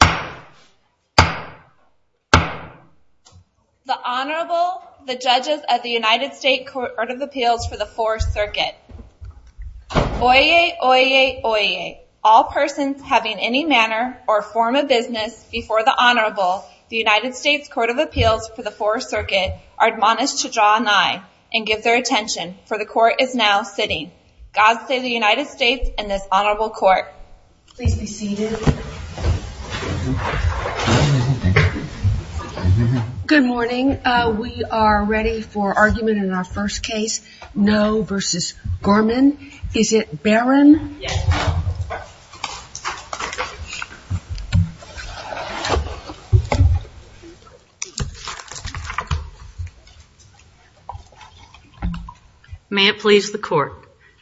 The Honorable, the Judges of the United States Court of Appeals for the 4th Circuit Oyez! Oyez! Oyez! All persons having any manner or form of business before the Honorable, the United States Court of Appeals for the 4th Circuit, are admonished to draw an eye and give their attention, for the Court is now sitting. God save the United States and this Honorable Court. Please be seated. Good morning. We are ready for argument in our first case, No v. Gorman. Is it Barron? Yes. May it please the Court.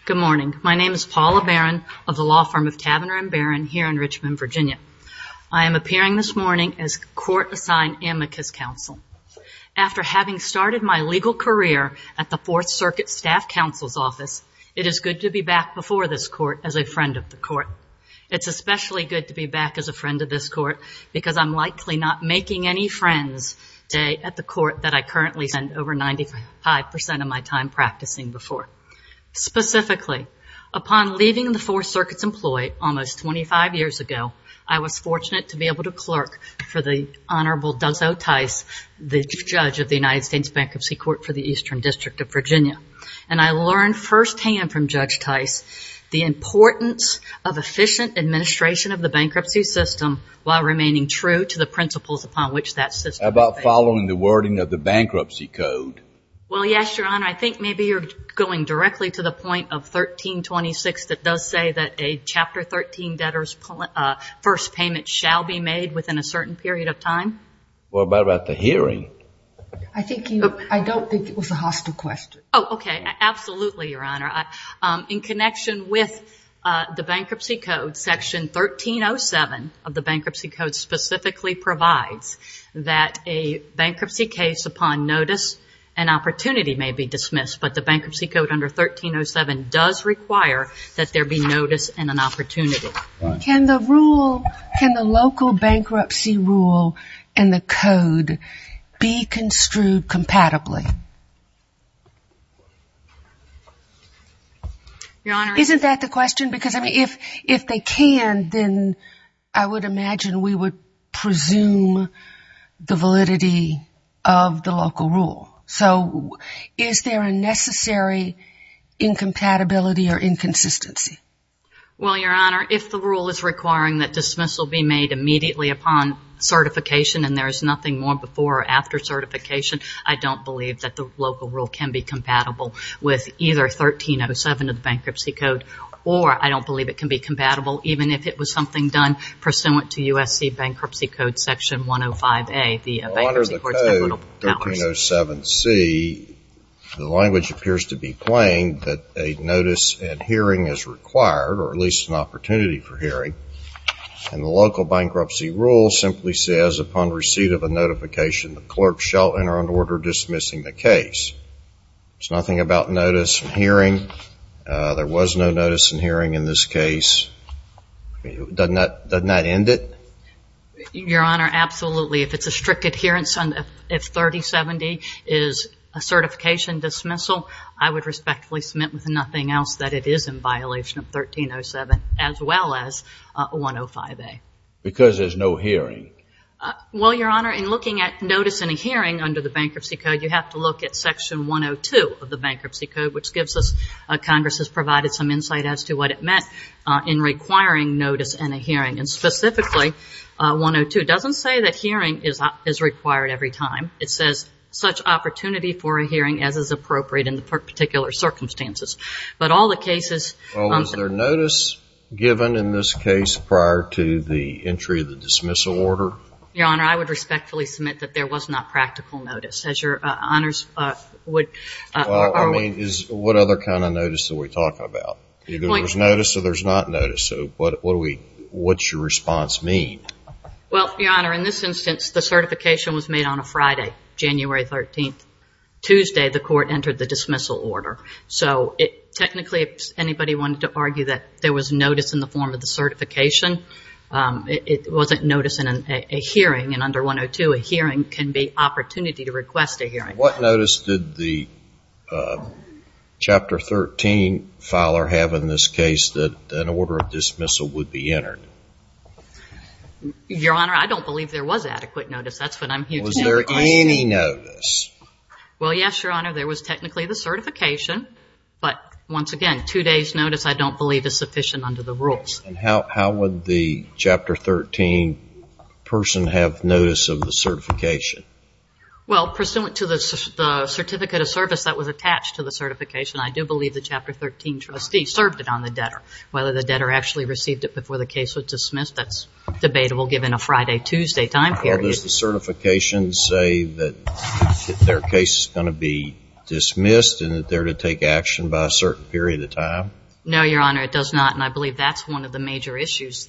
Good morning. My name is Paula Barron of the law firm of Taverner and Barron here in Richmond, Virginia. I am appearing this morning as Court-Assigned Amicus Counsel. After having started my legal career at the 4th Circuit Staff Counsel's Office, it is good to be back before this Court as a friend of the Court. It's especially good to be back as a friend of this Court because I'm likely not making any friends at the Court that I currently spend over 95% of my time practicing before. Specifically, upon leaving the 4th Circuit's employ almost 25 years ago, I was fortunate to be able to clerk for the Honorable Douglas O. Tice, the Judge of the United States Bankruptcy Court for the Eastern District of Virginia. And I learned firsthand from Judge Tice the importance of efficient administration of the bankruptcy system while remaining true to the principles upon which that system operates. How about following the wording of the Bankruptcy Code? Well, yes, Your Honor. I think maybe you're going directly to the point of 1326 that does say that a Chapter 13 debtor's first payment shall be made within a certain period of time. Well, what about the hearing? I don't think it was a hostile question. Oh, okay. Absolutely, Your Honor. In connection with the Bankruptcy Code, Section 1307 of the Bankruptcy Code specifically provides that a bankruptcy case upon notice and opportunity may be dismissed, but the Bankruptcy Code under 1307 does require that there be notice and an opportunity. Can the local bankruptcy rule and the code be construed compatibly? Isn't that the question? Because if they can, then I would imagine we would presume the validity of the local rule. So is there a necessary incompatibility or inconsistency? Well, Your Honor, if the rule is requiring that dismissal be made immediately upon certification and there is nothing more before or after certification, I don't believe that the local rule can be compatible with either 1307 of the Bankruptcy Code or I don't believe it can be compatible even if it was something done pursuant to USC Bankruptcy Code Section 105A. Well, under the code 1307C, the language appears to be plain that a notice and hearing is required, or at least an opportunity for hearing, and the local bankruptcy rule simply says upon receipt of a notification, the clerk shall enter into order dismissing the case. There's nothing about notice and hearing. There was no notice and hearing in this case. Doesn't that end it? Your Honor, absolutely. If it's a strict adherence, if 3070 is a certification dismissal, I would respectfully submit with nothing else that it is in violation of 1307 as well as 105A. Because there's no hearing. Well, Your Honor, in looking at notice and a hearing under the Bankruptcy Code, you have to look at Section 102 of the Bankruptcy Code, which gives us, Congress has provided some insight as to what it meant in requiring notice and a hearing. And specifically, 102 doesn't say that hearing is required every time. It says such opportunity for a hearing as is appropriate in the particular circumstances. But all the cases Well, was there notice given in this case prior to the entry of the dismissal order? Your Honor, I would respectfully submit that there was not practical notice, as Your Honors would Well, I mean, what other kind of notice are we talking about? Either there's notice or there's not notice, so what's your response mean? Well, Your Honor, in this instance, the certification was made on a Friday, January 13th. Tuesday, the court entered the dismissal order. So technically, if anybody wanted to argue that there was notice in the form of the certification, it wasn't notice in a hearing. And under 102, a hearing can be opportunity to request a hearing. What notice did the Chapter 13 filer have in this case that an order of dismissal would be entered? Your Honor, I don't believe there was adequate notice. That's what I'm here to say. Was there any notice? Well, yes, Your Honor. There was technically the certification, but once again, two days' notice I don't believe is sufficient under the rules. And how would the Chapter 13 person have notice of the certification? Well, pursuant to the certificate of service that was attached to the certification, I do believe the Chapter 13 trustee served it on the debtor. Whether the debtor actually received it before the case was dismissed, that's debatable given a Friday, Tuesday time period. Well, does the certification say that their case is going to be dismissed and that they're to take action by a certain period of time? No, Your Honor, it does not, and I believe that's one of the major issues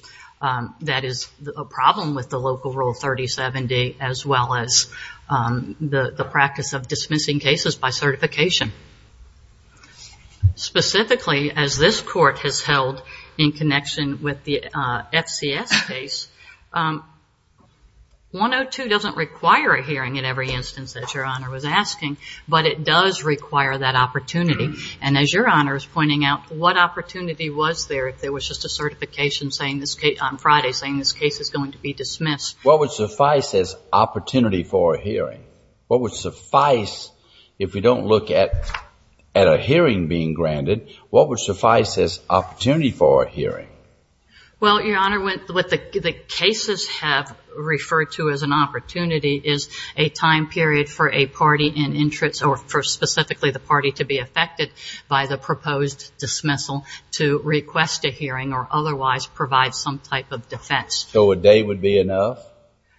that is a problem with the local Rule 3070 as well as the practice of dismissing cases by certification. Specifically, as this Court has held in connection with the FCS case, 102 doesn't require a hearing in every instance that Your Honor was asking, but it does require that opportunity. And as Your Honor is pointing out, what opportunity was there if there was just a certification on Friday saying this case is going to be dismissed? What would suffice as opportunity for a hearing? What would suffice, if we don't look at a hearing being granted, what would suffice as opportunity for a hearing? Well, Your Honor, what the cases have referred to as an opportunity is a time period for a party in interest or for specifically the party to be affected by the proposed dismissal to request a hearing or otherwise provide some type of defense. So a day would be enough?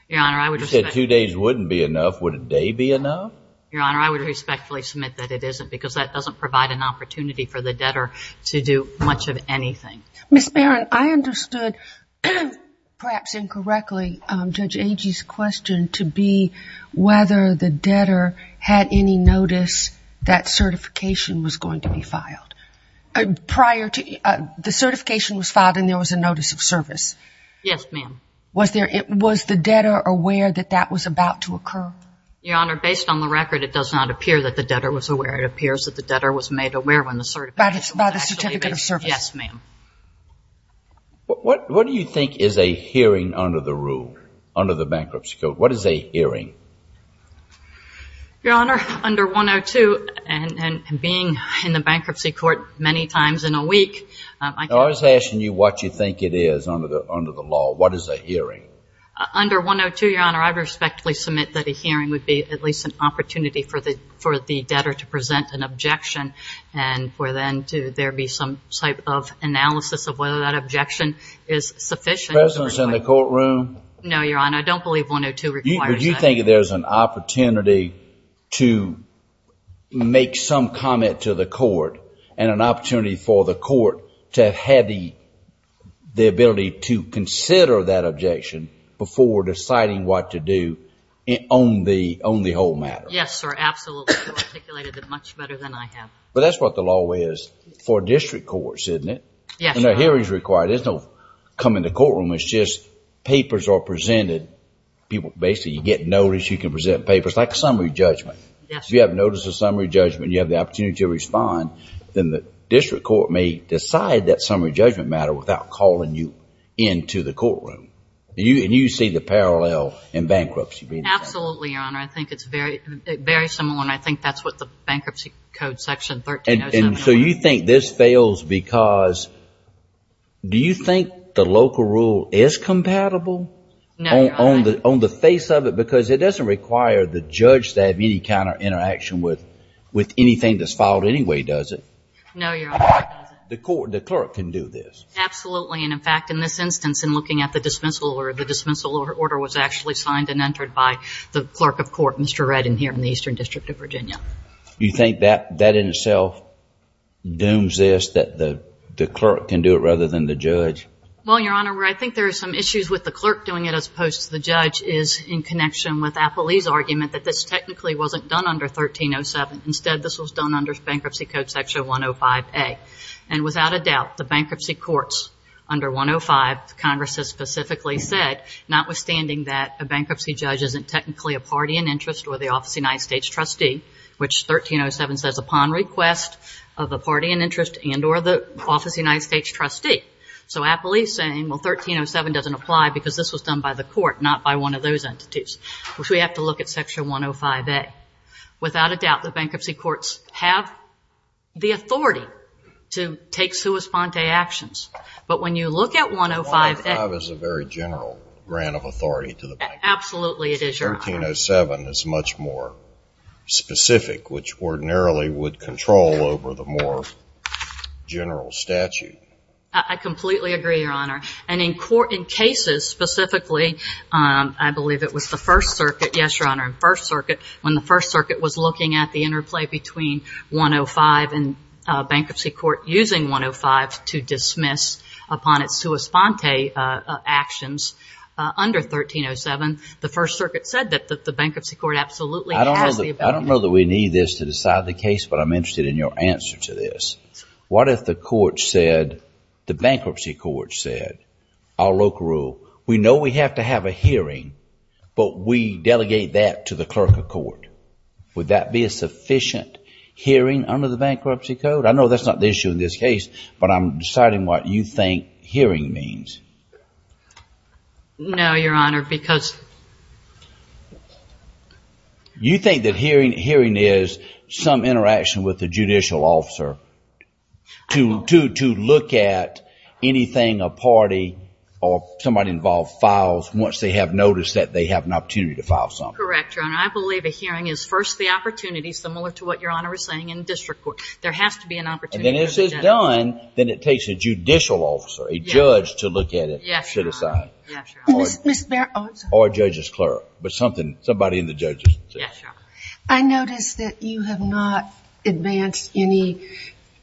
Your Honor, I would respect... You said two days wouldn't be enough. Would a day be enough? Your Honor, I would respectfully submit that it isn't because that doesn't provide an opportunity for the debtor to do much of anything. Ms. Barron, I understood, perhaps incorrectly, Judge Agee's question to be whether the debtor had any notice that certification was going to be filed. The certification was filed and there was a notice of service. Yes, ma'am. Was the debtor aware that that was about to occur? Your Honor, based on the record, it does not appear that the debtor was aware. It appears that the debtor was made aware when the certification was actually made. By the certificate of service? Yes, ma'am. What do you think is a hearing under the rule, under the bankruptcy code? What is a hearing? Your Honor, under 102 and being in the bankruptcy court many times in a week... I was asking you what you think it is under the law. What is a hearing? Under 102, Your Honor, I respectfully submit that a hearing would be at least an opportunity for the debtor to present an objection and for then to there be some type of analysis of whether that objection is sufficient. Presidents in the courtroom... No, Your Honor, I don't believe 102 requires that. Your Honor, do you think there's an opportunity to make some comment to the court and an opportunity for the court to have had the ability to consider that objection before deciding what to do on the whole matter? Yes, sir. Absolutely. You articulated it much better than I have. But that's what the law is for district courts, isn't it? Yes, Your Honor. There's no coming to courtroom. It's just papers are presented. Basically, you get notice. You can present papers like a summary judgment. Yes, sir. If you have notice of summary judgment and you have the opportunity to respond, then the district court may decide that summary judgment matter without calling you into the courtroom. And you see the parallel in bankruptcy. Absolutely, Your Honor. I think it's very similar and I think that's what the bankruptcy code section 1307... And so you think this fails because... Do you think the local rule is compatible? No, Your Honor. On the face of it, because it doesn't require the judge to have any kind of interaction with anything that's filed anyway, does it? No, Your Honor. The court, the clerk can do this. Absolutely. And in fact, in this instance, in looking at the dismissal order, the dismissal order was actually signed and entered by the clerk of court, Mr. Redden, here in the Eastern District of Virginia. Do you think that in itself dooms this, that the clerk can do it rather than the judge? Well, Your Honor, where I think there are some issues with the clerk doing it as opposed to the judge is in connection with Appley's argument that this technically wasn't done under 1307. Instead, this was done under bankruptcy code section 105A. And without a doubt, the bankruptcy courts under 105, Congress has specifically said, notwithstanding that a bankruptcy judge isn't technically a party in interest or the office of the United States trustee, which 1307 says upon request of the party in interest and or the office of the United States trustee. So Appley's saying, well, 1307 doesn't apply because this was done by the court, not by one of those entities, which we have to look at section 105A. Without a doubt, the bankruptcy courts have the authority to take sua sponte actions. But when you look at 105A. 105 is a very general grant of authority to the bank. Absolutely it is, Your Honor. 1307 is much more specific, which ordinarily would control over the more general statute. I completely agree, Your Honor. And in cases specifically, I believe it was the First Circuit. Yes, Your Honor. First Circuit. When the First Circuit was looking at the interplay between 105 and bankruptcy court using 105 to dismiss upon its sua sponte actions under 1307, the First Circuit said that the bankruptcy court absolutely has the ability. I don't know that we need this to decide the case, but I'm interested in your answer to this. What if the court said, the bankruptcy court said, our local rule, we know we have to have a hearing, but we delegate that to the clerk of court. Would that be a sufficient hearing under the bankruptcy code? I know that's not the issue in this case, but I'm deciding what you think hearing means. No, Your Honor, because. You think that hearing is some interaction with the judicial officer to look at anything a party or somebody involved files once they have noticed that they have an opportunity to file something. Correct, Your Honor. I believe a hearing is first the opportunity, similar to what Your Honor is saying in district court. There has to be an opportunity. And then if it's done, then it takes a judicial officer, a judge to look at it and set aside. Yes, Your Honor. Yes, Your Honor. Or a judge's clerk, but somebody in the judges. Yes, Your Honor. I notice that you have not advanced any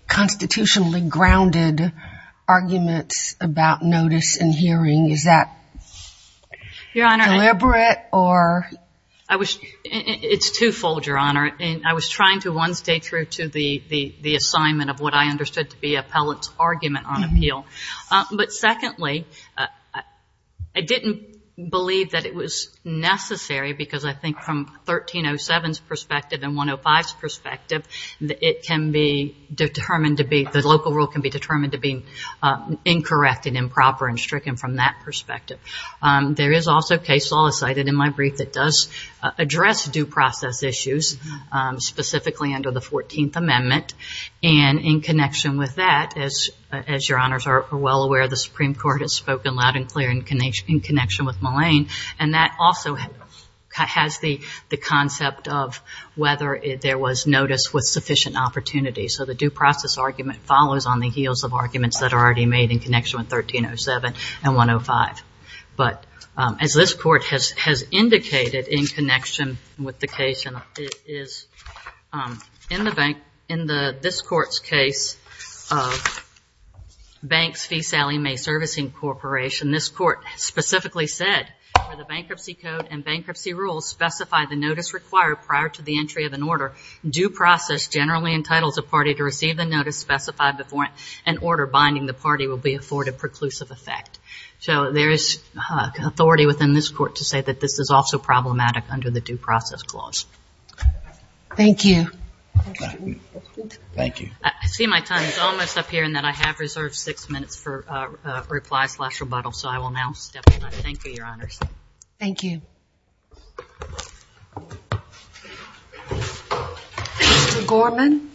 constitutionally grounded arguments about notice and hearing. Is that deliberate or? It's twofold, Your Honor. I was trying to one, stay true to the assignment of what I understood to be appellate's argument on appeal. But secondly, I didn't believe that it was necessary because I think from 1307's perspective and 105's perspective, it can be determined to be, the local rule can be determined to be incorrect and improper and stricken from that perspective. There is also case law cited in my brief that does address due process issues, specifically under the 14th Amendment. And in connection with that, as Your Honors are well aware, the Supreme Court has spoken loud and clear in connection with Mullane. And that also has the concept of whether there was notice with sufficient opportunity. So the due process argument follows on the heels of arguments that are already made in connection with 1307 and 105. But as this court has indicated in connection with the case, in this court's case of Banks v. Sallie Mae Servicing Corporation, this court specifically said, the bankruptcy code and bankruptcy rules specify the notice required prior to the entry of an order. Due process generally entitles a party to receive the notice specified before an order binding the party will be afforded preclusive effect. So there is authority within this court to say that this is also problematic under the due process clause. Thank you. I see my time is almost up here and that I have reserved six minutes for replies last rebuttal. So I will now step down. Thank you, Your Honors. Thank you. Mr. Gorman.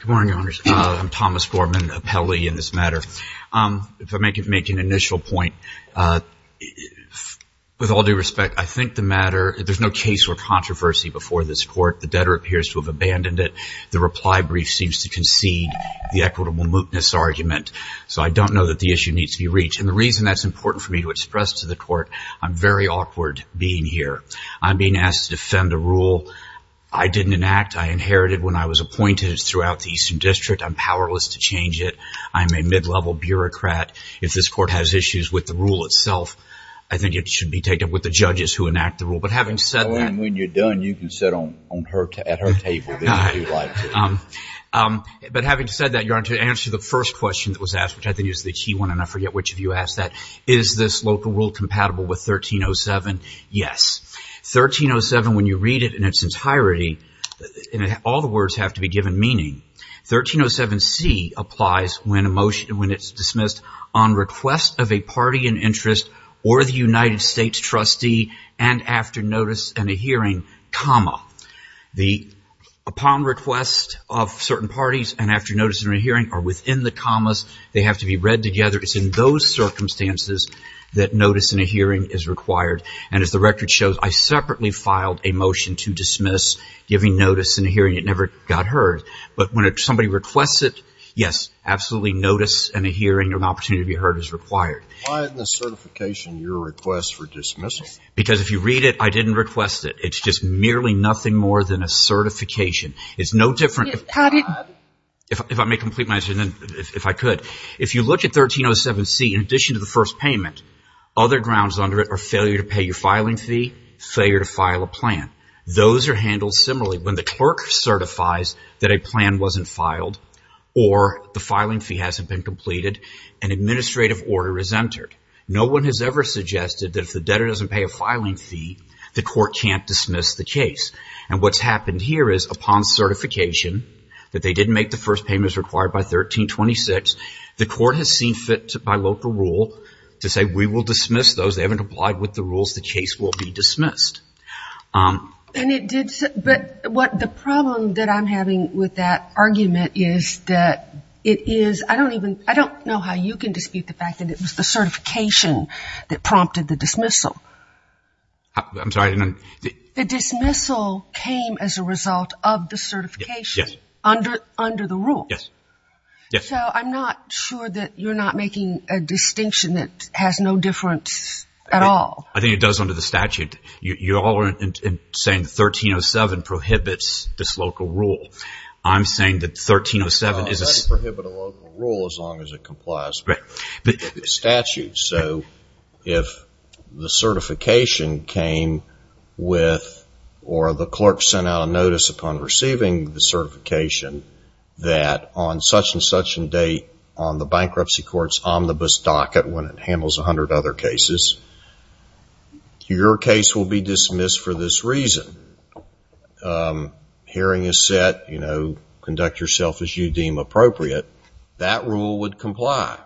Good morning, Your Honors. I'm Thomas Gorman, appellee in this matter. If I may make an initial point. With all due respect, I think the matter, there's no case or controversy before this court. The debtor appears to have abandoned it. The reply brief seems to concede the equitable mootness argument. So I don't know that the issue needs to be reached. And the reason that's important for me to express to the court, I'm very awkward being here. I'm being asked to defend a rule I didn't enact. I inherited when I was appointed throughout the Eastern District. I'm powerless to change it. I'm a mid-level bureaucrat. If this court has issues with the rule itself, I think it should be taken up with the judges who enact the rule. But having said that. And when you're done, you can sit at her table if you'd like to. But having said that, Your Honor, to answer the first question that was asked, which I think is the key one, and I forget which of you asked that, is this local rule compatible with 1307? Yes. 1307, when you read it in its entirety, all the words have to be given meaning. 1307c applies when it's dismissed on request of a party in interest or the United States trustee and after notice and a hearing, comma. Upon request of certain parties and after notice and a hearing are within the commas. They have to be read together. It's in those circumstances that notice and a hearing is required. And as the record shows, I separately filed a motion to dismiss giving notice and a hearing. It never got heard. But when somebody requests it, yes, absolutely notice and a hearing or an opportunity to be heard is required. Why isn't the certification your request for dismissal? Because if you read it, I didn't request it. It's just merely nothing more than a certification. It's no different if I may complete my answer if I could. If you look at 1307c, in addition to the first payment, other grounds under it are failure to pay your filing fee, failure to file a plan. Those are handled similarly. When the clerk certifies that a plan wasn't filed or the filing fee hasn't been completed, an administrative order is entered. No one has ever suggested that if the debtor doesn't pay a filing fee, the court can't dismiss the case. And what's happened here is upon certification that they didn't make the first payments required by 1326, the court has seen fit by local rule to say we will dismiss those. They haven't applied with the rules. The case will be dismissed. But the problem that I'm having with that argument is that it is, I don't know how you can dispute the fact that it was the certification that prompted the dismissal. I'm sorry? The dismissal came as a result of the certification. Yes. Under the rule. Yes. So I'm not sure that you're not making a distinction that has no difference at all. I think it does under the statute. You're all saying 1307 prohibits this local rule. I'm saying that 1307 is a... It doesn't prohibit a local rule as long as it complies with the statute. So if the certification came with or the clerk sent out a notice upon receiving the certification that on such and date on the bankruptcy court's omnibus docket when it handles 100 other cases, your case will be dismissed for this reason. Hearing is set, you know, conduct yourself as you deem appropriate. That rule would comply.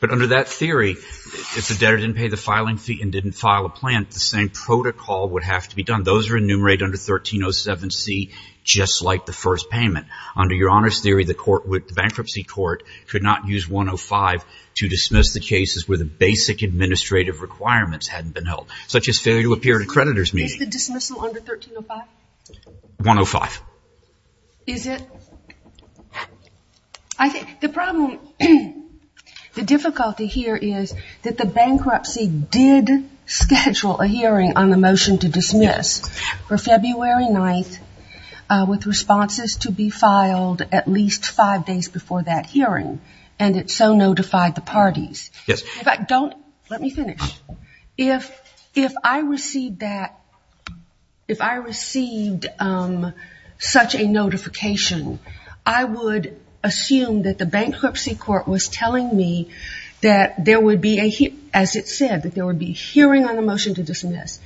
But under that theory, if the debtor didn't pay the filing fee and didn't file a plant, the same protocol would have to be done. Those are enumerated under 1307C just like the first payment. Under your honors theory, the bankruptcy court could not use 105 to dismiss the cases where the basic administrative requirements hadn't been held, such as failure to appear at a creditor's meeting. Is the dismissal under 1305? 105. Is it? The problem, the difficulty here is that the bankruptcy did schedule a hearing on the motion to dismiss for February 9th with responses to be filed at least five days before that hearing, and it so notified the parties. Yes. Don't let me finish. If I received that, if I received such a notification, I would assume that the bankruptcy court was telling me that there would be, as it said, that there would be hearing on the motion to dismiss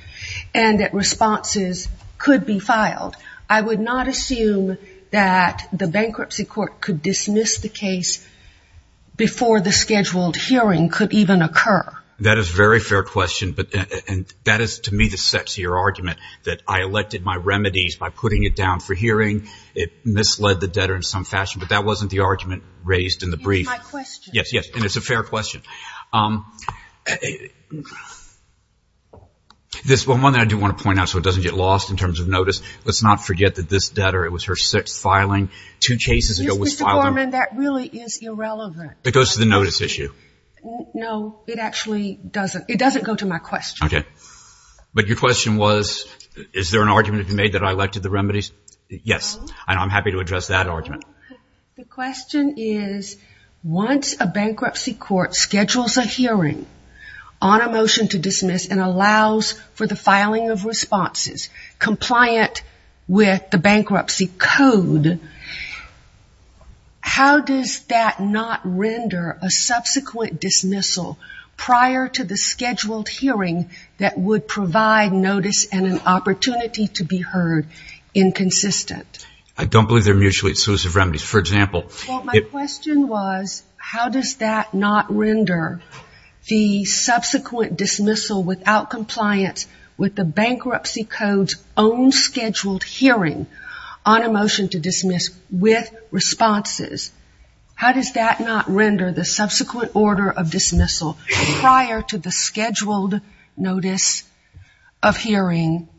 and that responses could be filed. I would not assume that the bankruptcy court could dismiss the case before the scheduled hearing could even occur. That is a very fair question, and that is, to me, the sexier argument, that I elected my remedies by putting it down for hearing. It misled the debtor in some fashion, but that wasn't the argument raised in the brief. That's my question. Yes, yes, and it's a fair question. One thing I do want to point out so it doesn't get lost in terms of notice, let's not forget that this debtor, it was her sixth filing two cases ago. Mr. Gorman, that really is irrelevant. It goes to the notice issue. No, it actually doesn't. It doesn't go to my question. Okay. But your question was, is there an argument to be made that I elected the remedies? Yes, and I'm happy to address that argument. The question is, once a bankruptcy court schedules a hearing on a motion to dismiss and allows for the filing of responses compliant with the bankruptcy code, how does that not render a subsequent dismissal prior to the scheduled hearing that would provide notice and an opportunity to be heard inconsistent? I don't believe they're mutually exclusive remedies. For example. Well, my question was, how does that not render the subsequent dismissal without compliance with the bankruptcy code's own scheduled hearing on a motion to dismiss with responses? How does that not render the subsequent order of dismissal prior to the scheduled notice of hearing,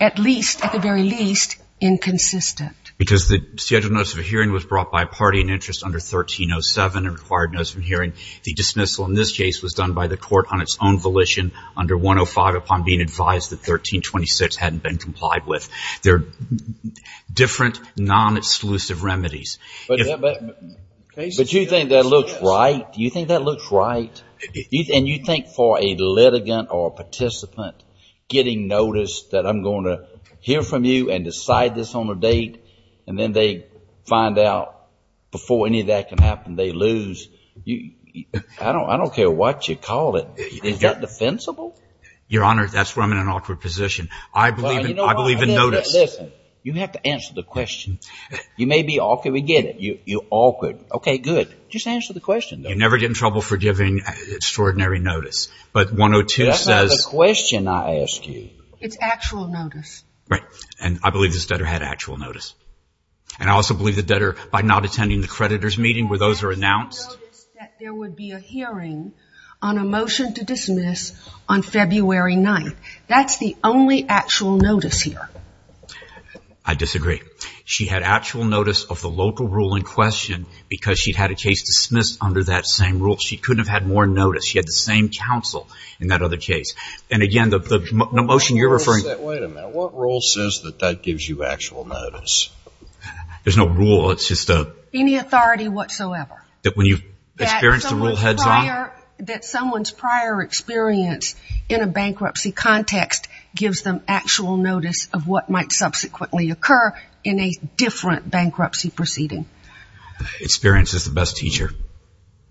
at least, at the very least, inconsistent? Because the scheduled notice of hearing was brought by a party in interest under 1307 and required notice of hearing. The dismissal in this case was done by the court on its own volition under 105 upon being advised that 1326 hadn't been complied with. They're different, non-exclusive remedies. But you think that looks right? Do you think that looks right? And you think for a litigant or a participant getting notice that I'm going to hear from you and decide this on a date and then they find out before any of that can happen they lose. I don't care what you call it. Is that defensible? Your Honor, that's where I'm in an awkward position. I believe in notice. Listen, you have to answer the question. You may be awkward. You're awkward. Okay, good. Just answer the question, though. I never get in trouble for giving extraordinary notice. But 102 says. That's not the question I asked you. It's actual notice. Right. And I believe this debtor had actual notice. And I also believe the debtor, by not attending the creditor's meeting where those are announced. I noticed that there would be a hearing on a motion to dismiss on February 9th. That's the only actual notice here. I disagree. She had actual notice of the local rule in question because she'd had a case dismissed under that same rule. She couldn't have had more notice. She had the same counsel in that other case. And, again, the motion you're referring to. Wait a minute. What rule says that that gives you actual notice? There's no rule. It's just a... Any authority whatsoever. That when you experience the rule heads on. That someone's prior experience in a bankruptcy context gives them actual notice of what might subsequently occur. In a different bankruptcy proceeding. Experience is the best teacher.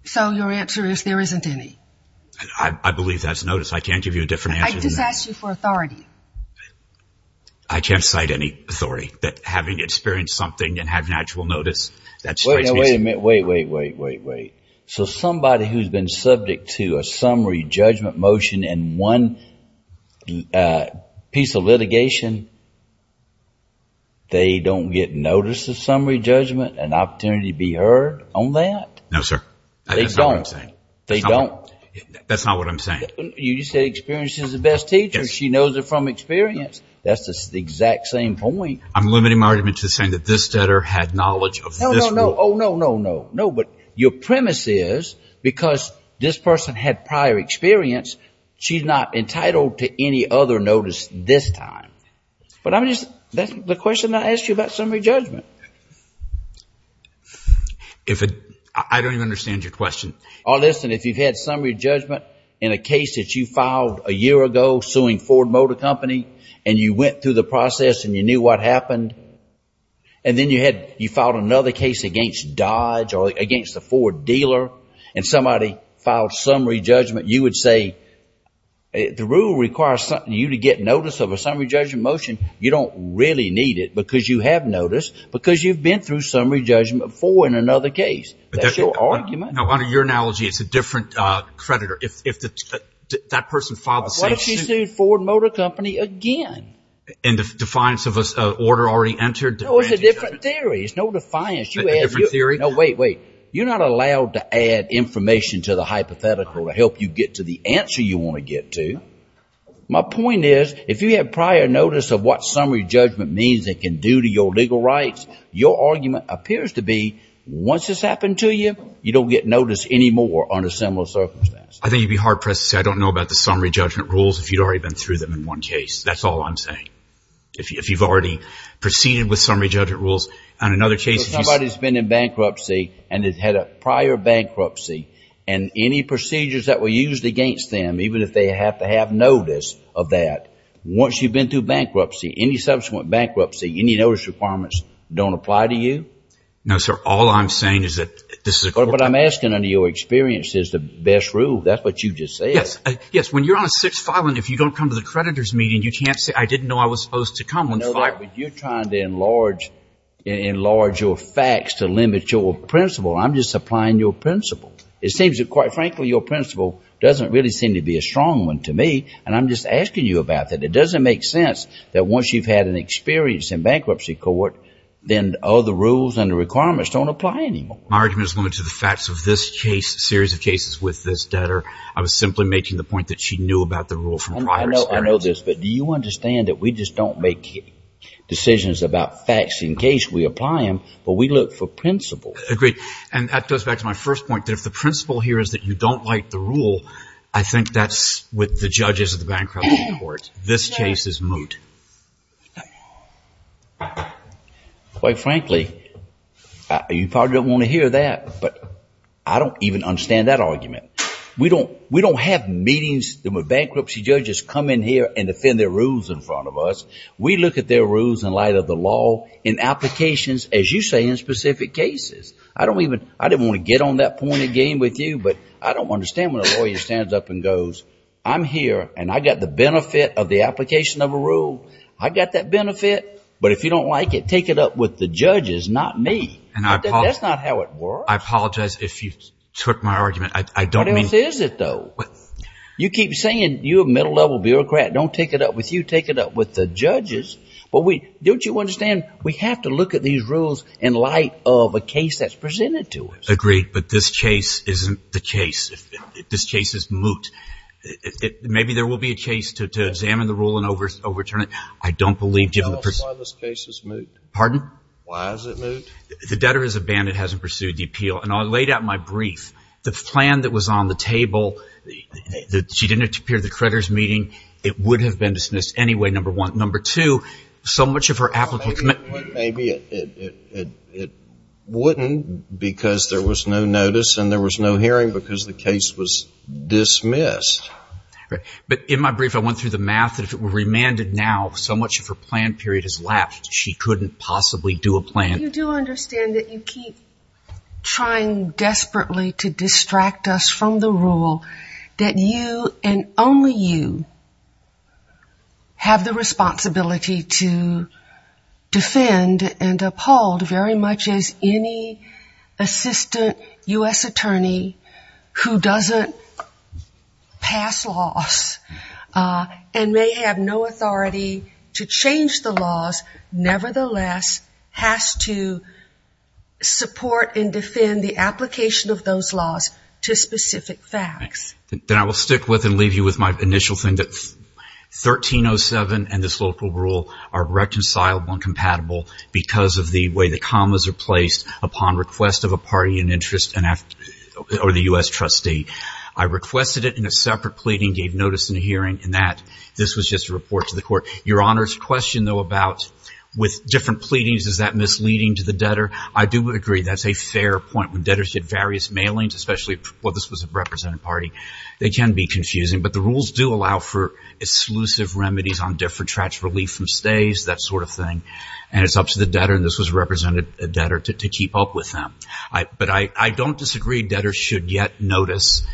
So your answer is there isn't any. I believe that's notice. I can't give you a different answer. I just asked you for authority. I can't cite any authority. That having experienced something and having actual notice. Wait a minute. Wait, wait, wait, wait, wait. So somebody who's been subject to a summary judgment motion in one piece of litigation, they don't get notice of summary judgment, an opportunity to be heard on that? No, sir. That's not what I'm saying. They don't. That's not what I'm saying. You said experience is the best teacher. She knows it from experience. That's the exact same point. I'm limiting my argument to saying that this debtor had knowledge of this rule. No, no, no. Oh, no, no, no. But your premise is because this person had prior experience, she's not entitled to any other notice this time. But that's the question I asked you about summary judgment. I don't even understand your question. Listen, if you've had summary judgment in a case that you filed a year ago suing Ford Motor Company and you went through the process and you knew what happened, and then you filed another case against Dodge or against the Ford dealer and somebody filed summary judgment, you would say the rule requires you to get notice of a summary judgment motion. You don't really need it because you have notice because you've been through summary judgment before in another case. That's your argument. Now, under your analogy, it's a different creditor. If that person filed the same suit. What if she sued Ford Motor Company again? And the defiance of an order already entered? No, it's a different theory. It's no defiance. A different theory? No, wait, wait. You're not allowed to add information to the hypothetical to help you get to the answer you want to get to. My point is if you have prior notice of what summary judgment means it can do to your legal rights, your argument appears to be once this happened to you, you don't get notice anymore under similar circumstances. I think you'd be hard-pressed to say I don't know about the summary judgment rules if you'd already been through them in one case. That's all I'm saying. If you've already proceeded with summary judgment rules on another case. If somebody's been in bankruptcy and has had a prior bankruptcy and any procedures that were used against them, even if they have to have notice of that, once you've been through bankruptcy, any subsequent bankruptcy, any notice requirements don't apply to you? No, sir. All I'm saying is that this is a – But I'm asking under your experience is the best rule. That's what you just said. Yes. Yes. When you're on a six-file and if you don't come to the creditor's meeting, you can't say I didn't know I was supposed to come. No, but you're trying to enlarge your facts to limit your principle. I'm just applying your principle. It seems that quite frankly your principle doesn't really seem to be a strong one to me, and I'm just asking you about that. It doesn't make sense that once you've had an experience in bankruptcy court, then all the rules and the requirements don't apply anymore. My argument is limited to the facts of this case, series of cases with this debtor. I was simply making the point that she knew about the rule from prior experience. I know this, but do you understand that we just don't make decisions about facts in case we apply them, but we look for principle? Agreed. And that goes back to my first point, that if the principle here is that you don't like the rule, I think that's with the judges of the bankruptcy court. This case is moot. Quite frankly, you probably don't want to hear that, but I don't even understand that argument. We don't have meetings with bankruptcy judges come in here and defend their rules in front of us. We look at their rules in light of the law in applications, as you say, in specific cases. I didn't want to get on that point again with you, but I don't understand when a lawyer stands up and goes, I'm here, and I've got the benefit of the application of a rule. I've got that benefit, but if you don't like it, take it up with the judges, not me. That's not how it works. I apologize if you took my argument. What else is it, though? You keep saying you're a middle-level bureaucrat. Don't take it up with you. Take it up with the judges. Don't you understand we have to look at these rules in light of a case that's presented to us? Agreed, but this case isn't the case. This case is moot. Maybe there will be a case to examine the rule and overturn it. I don't believe, given the person. Tell us why this case is moot. Pardon? Why is it moot? The debtor has abandoned, hasn't pursued the appeal. And I laid out in my brief the plan that was on the table. She didn't appear at the creditor's meeting. It would have been dismissed anyway, number one. Number two, so much of her application. Maybe it wouldn't because there was no notice and there was no hearing because the case was dismissed. But in my brief I went through the math that if it were remanded now, so much of her plan period is lapsed. She couldn't possibly do a plan. You do understand that you keep trying desperately to distract us from the rule that you and only you have the responsibility to defend and uphold very much as any assistant U.S. attorney who doesn't pass laws and may have no authority to change the laws, nevertheless has to support and defend the application of those laws to specific facts. Then I will stick with and leave you with my initial thing that 1307 and this local rule are reconcilable and compatible because of the way the commas are placed upon request of a party in interest or the U.S. trustee. I requested it in a separate pleading, gave notice in a hearing, and that this was just a report to the court. Your Honor's question, though, about with different pleadings, is that misleading to the debtor? I do agree that's a fair point when debtors get various mailings, especially if this was a represented party. They can be confusing, but the rules do allow for exclusive remedies on different tracts, relief from stays, that sort of thing, and it's up to the debtor, and this was represented a debtor, to keep up with them. But I don't disagree debtors should yet notice.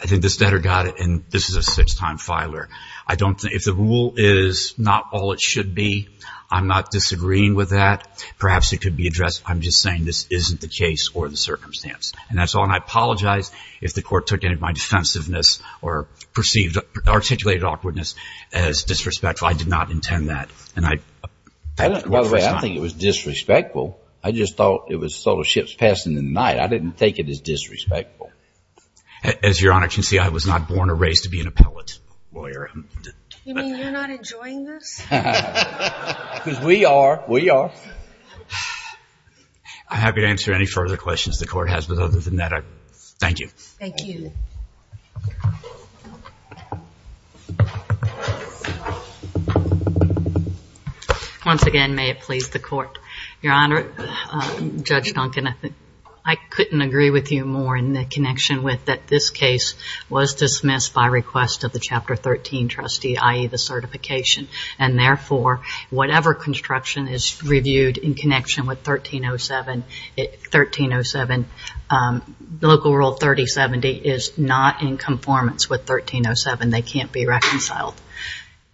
I think this debtor got it, and this is a six-time filer. If the rule is not all it should be, I'm not disagreeing with that. Perhaps it could be addressed. I'm just saying this isn't the case or the circumstance, and that's all. And I apologize if the Court took any of my defensiveness or perceived articulated awkwardness as disrespectful. I did not intend that. And I thank the Court for its time. By the way, I don't think it was disrespectful. I just thought it was sort of ships passing in the night. I didn't take it as disrespectful. As Your Honor can see, I was not born or raised to be an appellate lawyer. You mean you're not enjoying this? Because we are. We are. I'm happy to answer any further questions the Court has, but other than that, I thank you. Thank you. Once again, may it please the Court. Your Honor, Judge Duncan, I couldn't agree with you more in the connection with that this case was dismissed by request of the Chapter 13 trustee, i.e., the certification. And therefore, whatever construction is reviewed in connection with 1307, Local Rule 3070 is not in conformance with 1307. They can't be reconciled.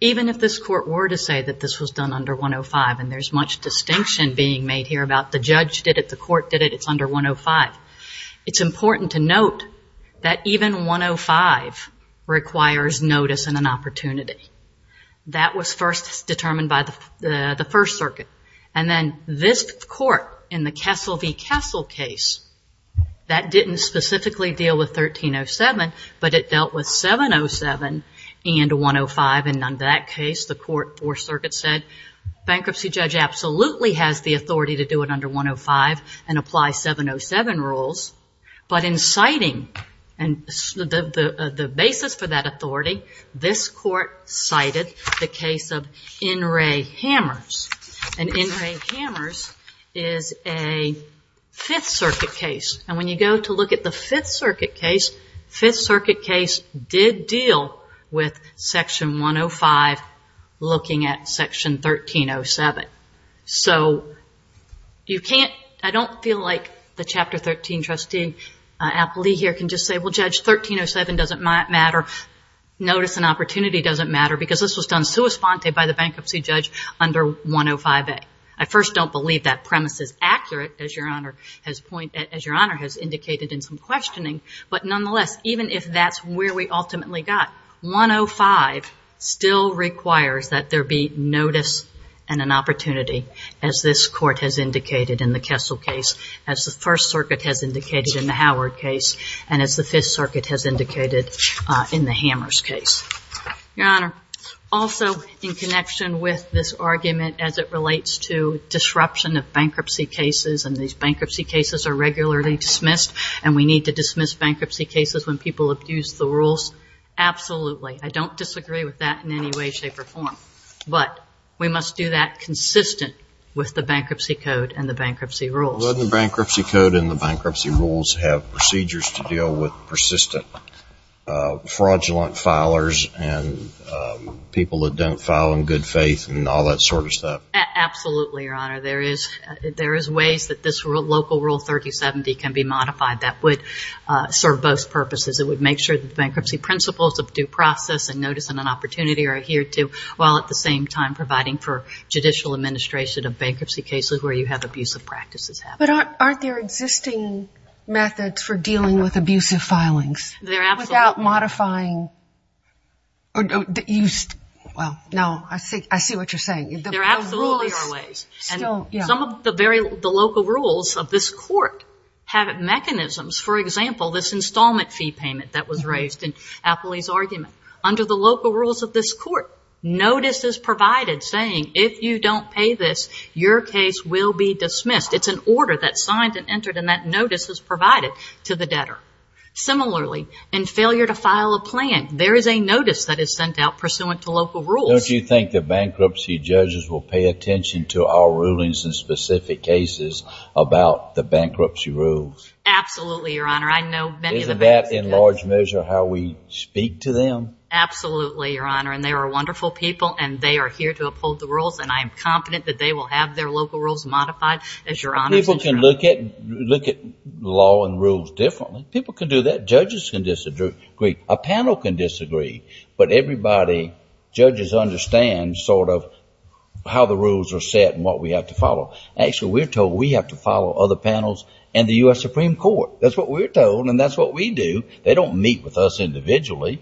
Even if this Court were to say that this was done under 105, and there's much distinction being made here about the judge did it, the Court did it, it's under 105. That was first determined by the First Circuit. And then this Court, in the Kessel v. Kessel case, that didn't specifically deal with 1307, but it dealt with 707 and 105. And on that case, the Court, Fourth Circuit said, bankruptcy judge absolutely has the authority to do it under 105 and apply 707 rules, but in citing the basis for that authority, this Court cited the case of N. Ray Hammers. And N. Ray Hammers is a Fifth Circuit case. And when you go to look at the Fifth Circuit case, Fifth Circuit case did deal with Section 105 looking at Section 1307. So you can't, I don't feel like the Chapter 13 trustee, Applee here can just say, well, Judge, 1307 doesn't matter, notice and opportunity doesn't matter, because this was done sua sponte by the bankruptcy judge under 105A. I first don't believe that premise is accurate, as Your Honor has pointed, as Your Honor has indicated in some questioning. But nonetheless, even if that's where we ultimately got, 105 still requires that there be notice and an opportunity, as this Court has indicated in the Kessel case, as the First Circuit has indicated in the Howard case, and as the Fifth Circuit has indicated in the Hammers case. Your Honor, also in connection with this argument, as it relates to disruption of bankruptcy cases, and these bankruptcy cases are regularly dismissed, and we need to dismiss bankruptcy cases when people abuse the rules, absolutely. I don't disagree with that in any way, shape, or form. But we must do that consistent with the bankruptcy code and the bankruptcy rules. Doesn't the bankruptcy code and the bankruptcy rules have procedures to deal with persistent fraudulent filers and people that don't file in good faith and all that sort of stuff? Absolutely, Your Honor. There is ways that this local Rule 3070 can be modified that would serve both purposes. It would make sure that the bankruptcy principles of due process and notice and an opportunity are adhered to, while at the same time providing for judicial administration of bankruptcy cases where you have abusive practices happen. But aren't there existing methods for dealing with abusive filings? There absolutely are. Without modifying? Well, no, I see what you're saying. There absolutely are ways. Some of the local rules of this court have mechanisms. For example, this installment fee payment that was raised in Apley's argument. Under the local rules of this court, notice is provided saying, if you don't pay this, your case will be dismissed. It's an order that's signed and entered, and that notice is provided to the debtor. Similarly, in failure to file a plan, there is a notice that is sent out pursuant to local rules. Don't you think the bankruptcy judges will pay attention to our rulings and specific cases about the bankruptcy rules? Absolutely, Your Honor. I know many of the bankruptcy judges. Isn't that in large measure how we speak to them? Absolutely, Your Honor. And they are wonderful people, and they are here to uphold the rules, and I am confident that they will have their local rules modified. People can look at law and rules differently. People can do that. Judges can disagree. A panel can disagree, but everybody, judges, understand sort of how the rules are set and what we have to follow. Actually, we're told we have to follow other panels and the U.S. Supreme Court. That's what we're told, and that's what we do. They don't meet with us individually,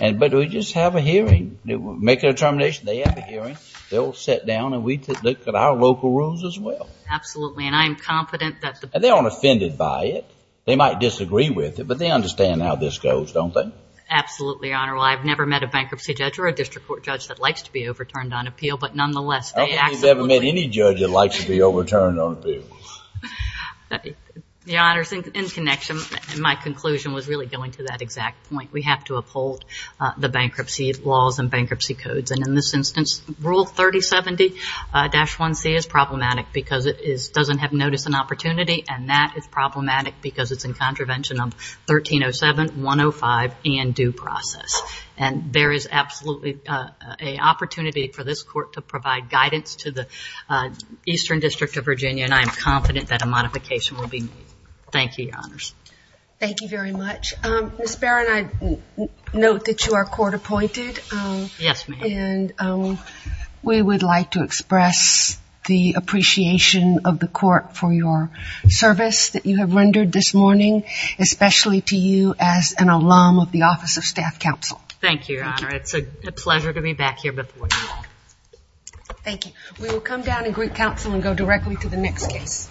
but we just have a hearing, make a determination. They have a hearing. They'll sit down, and we look at our local rules as well. Absolutely, and I am confident that the ---- And they aren't offended by it. They might disagree with it, but they understand how this goes, don't they? Absolutely, Your Honor. Well, I've never met a bankruptcy judge or a district court judge that likes to be overturned on appeal, but nonetheless, they absolutely ---- I don't think you've ever met any judge that likes to be overturned on appeal. Your Honor, in connection, my conclusion was really going to that exact point. We have to uphold the bankruptcy laws and bankruptcy codes, and in this instance, Rule 3070-1C is problematic because it doesn't have notice and opportunity, and that is problematic because it's in contravention of 1307, 105, and due process. And there is absolutely an opportunity for this court to provide guidance to the Eastern District of Virginia, and I am confident that a modification will be made. Thank you, Your Honors. Thank you very much. Ms. Barron, I note that you are court appointed. Yes, ma'am. And we would like to express the appreciation of the court for your service that you have rendered this morning, especially to you as an alum of the Office of Staff Counsel. Thank you, Your Honor. It's a pleasure to be back here before you all. Thank you. We will come down and greet counsel and go directly to the next case.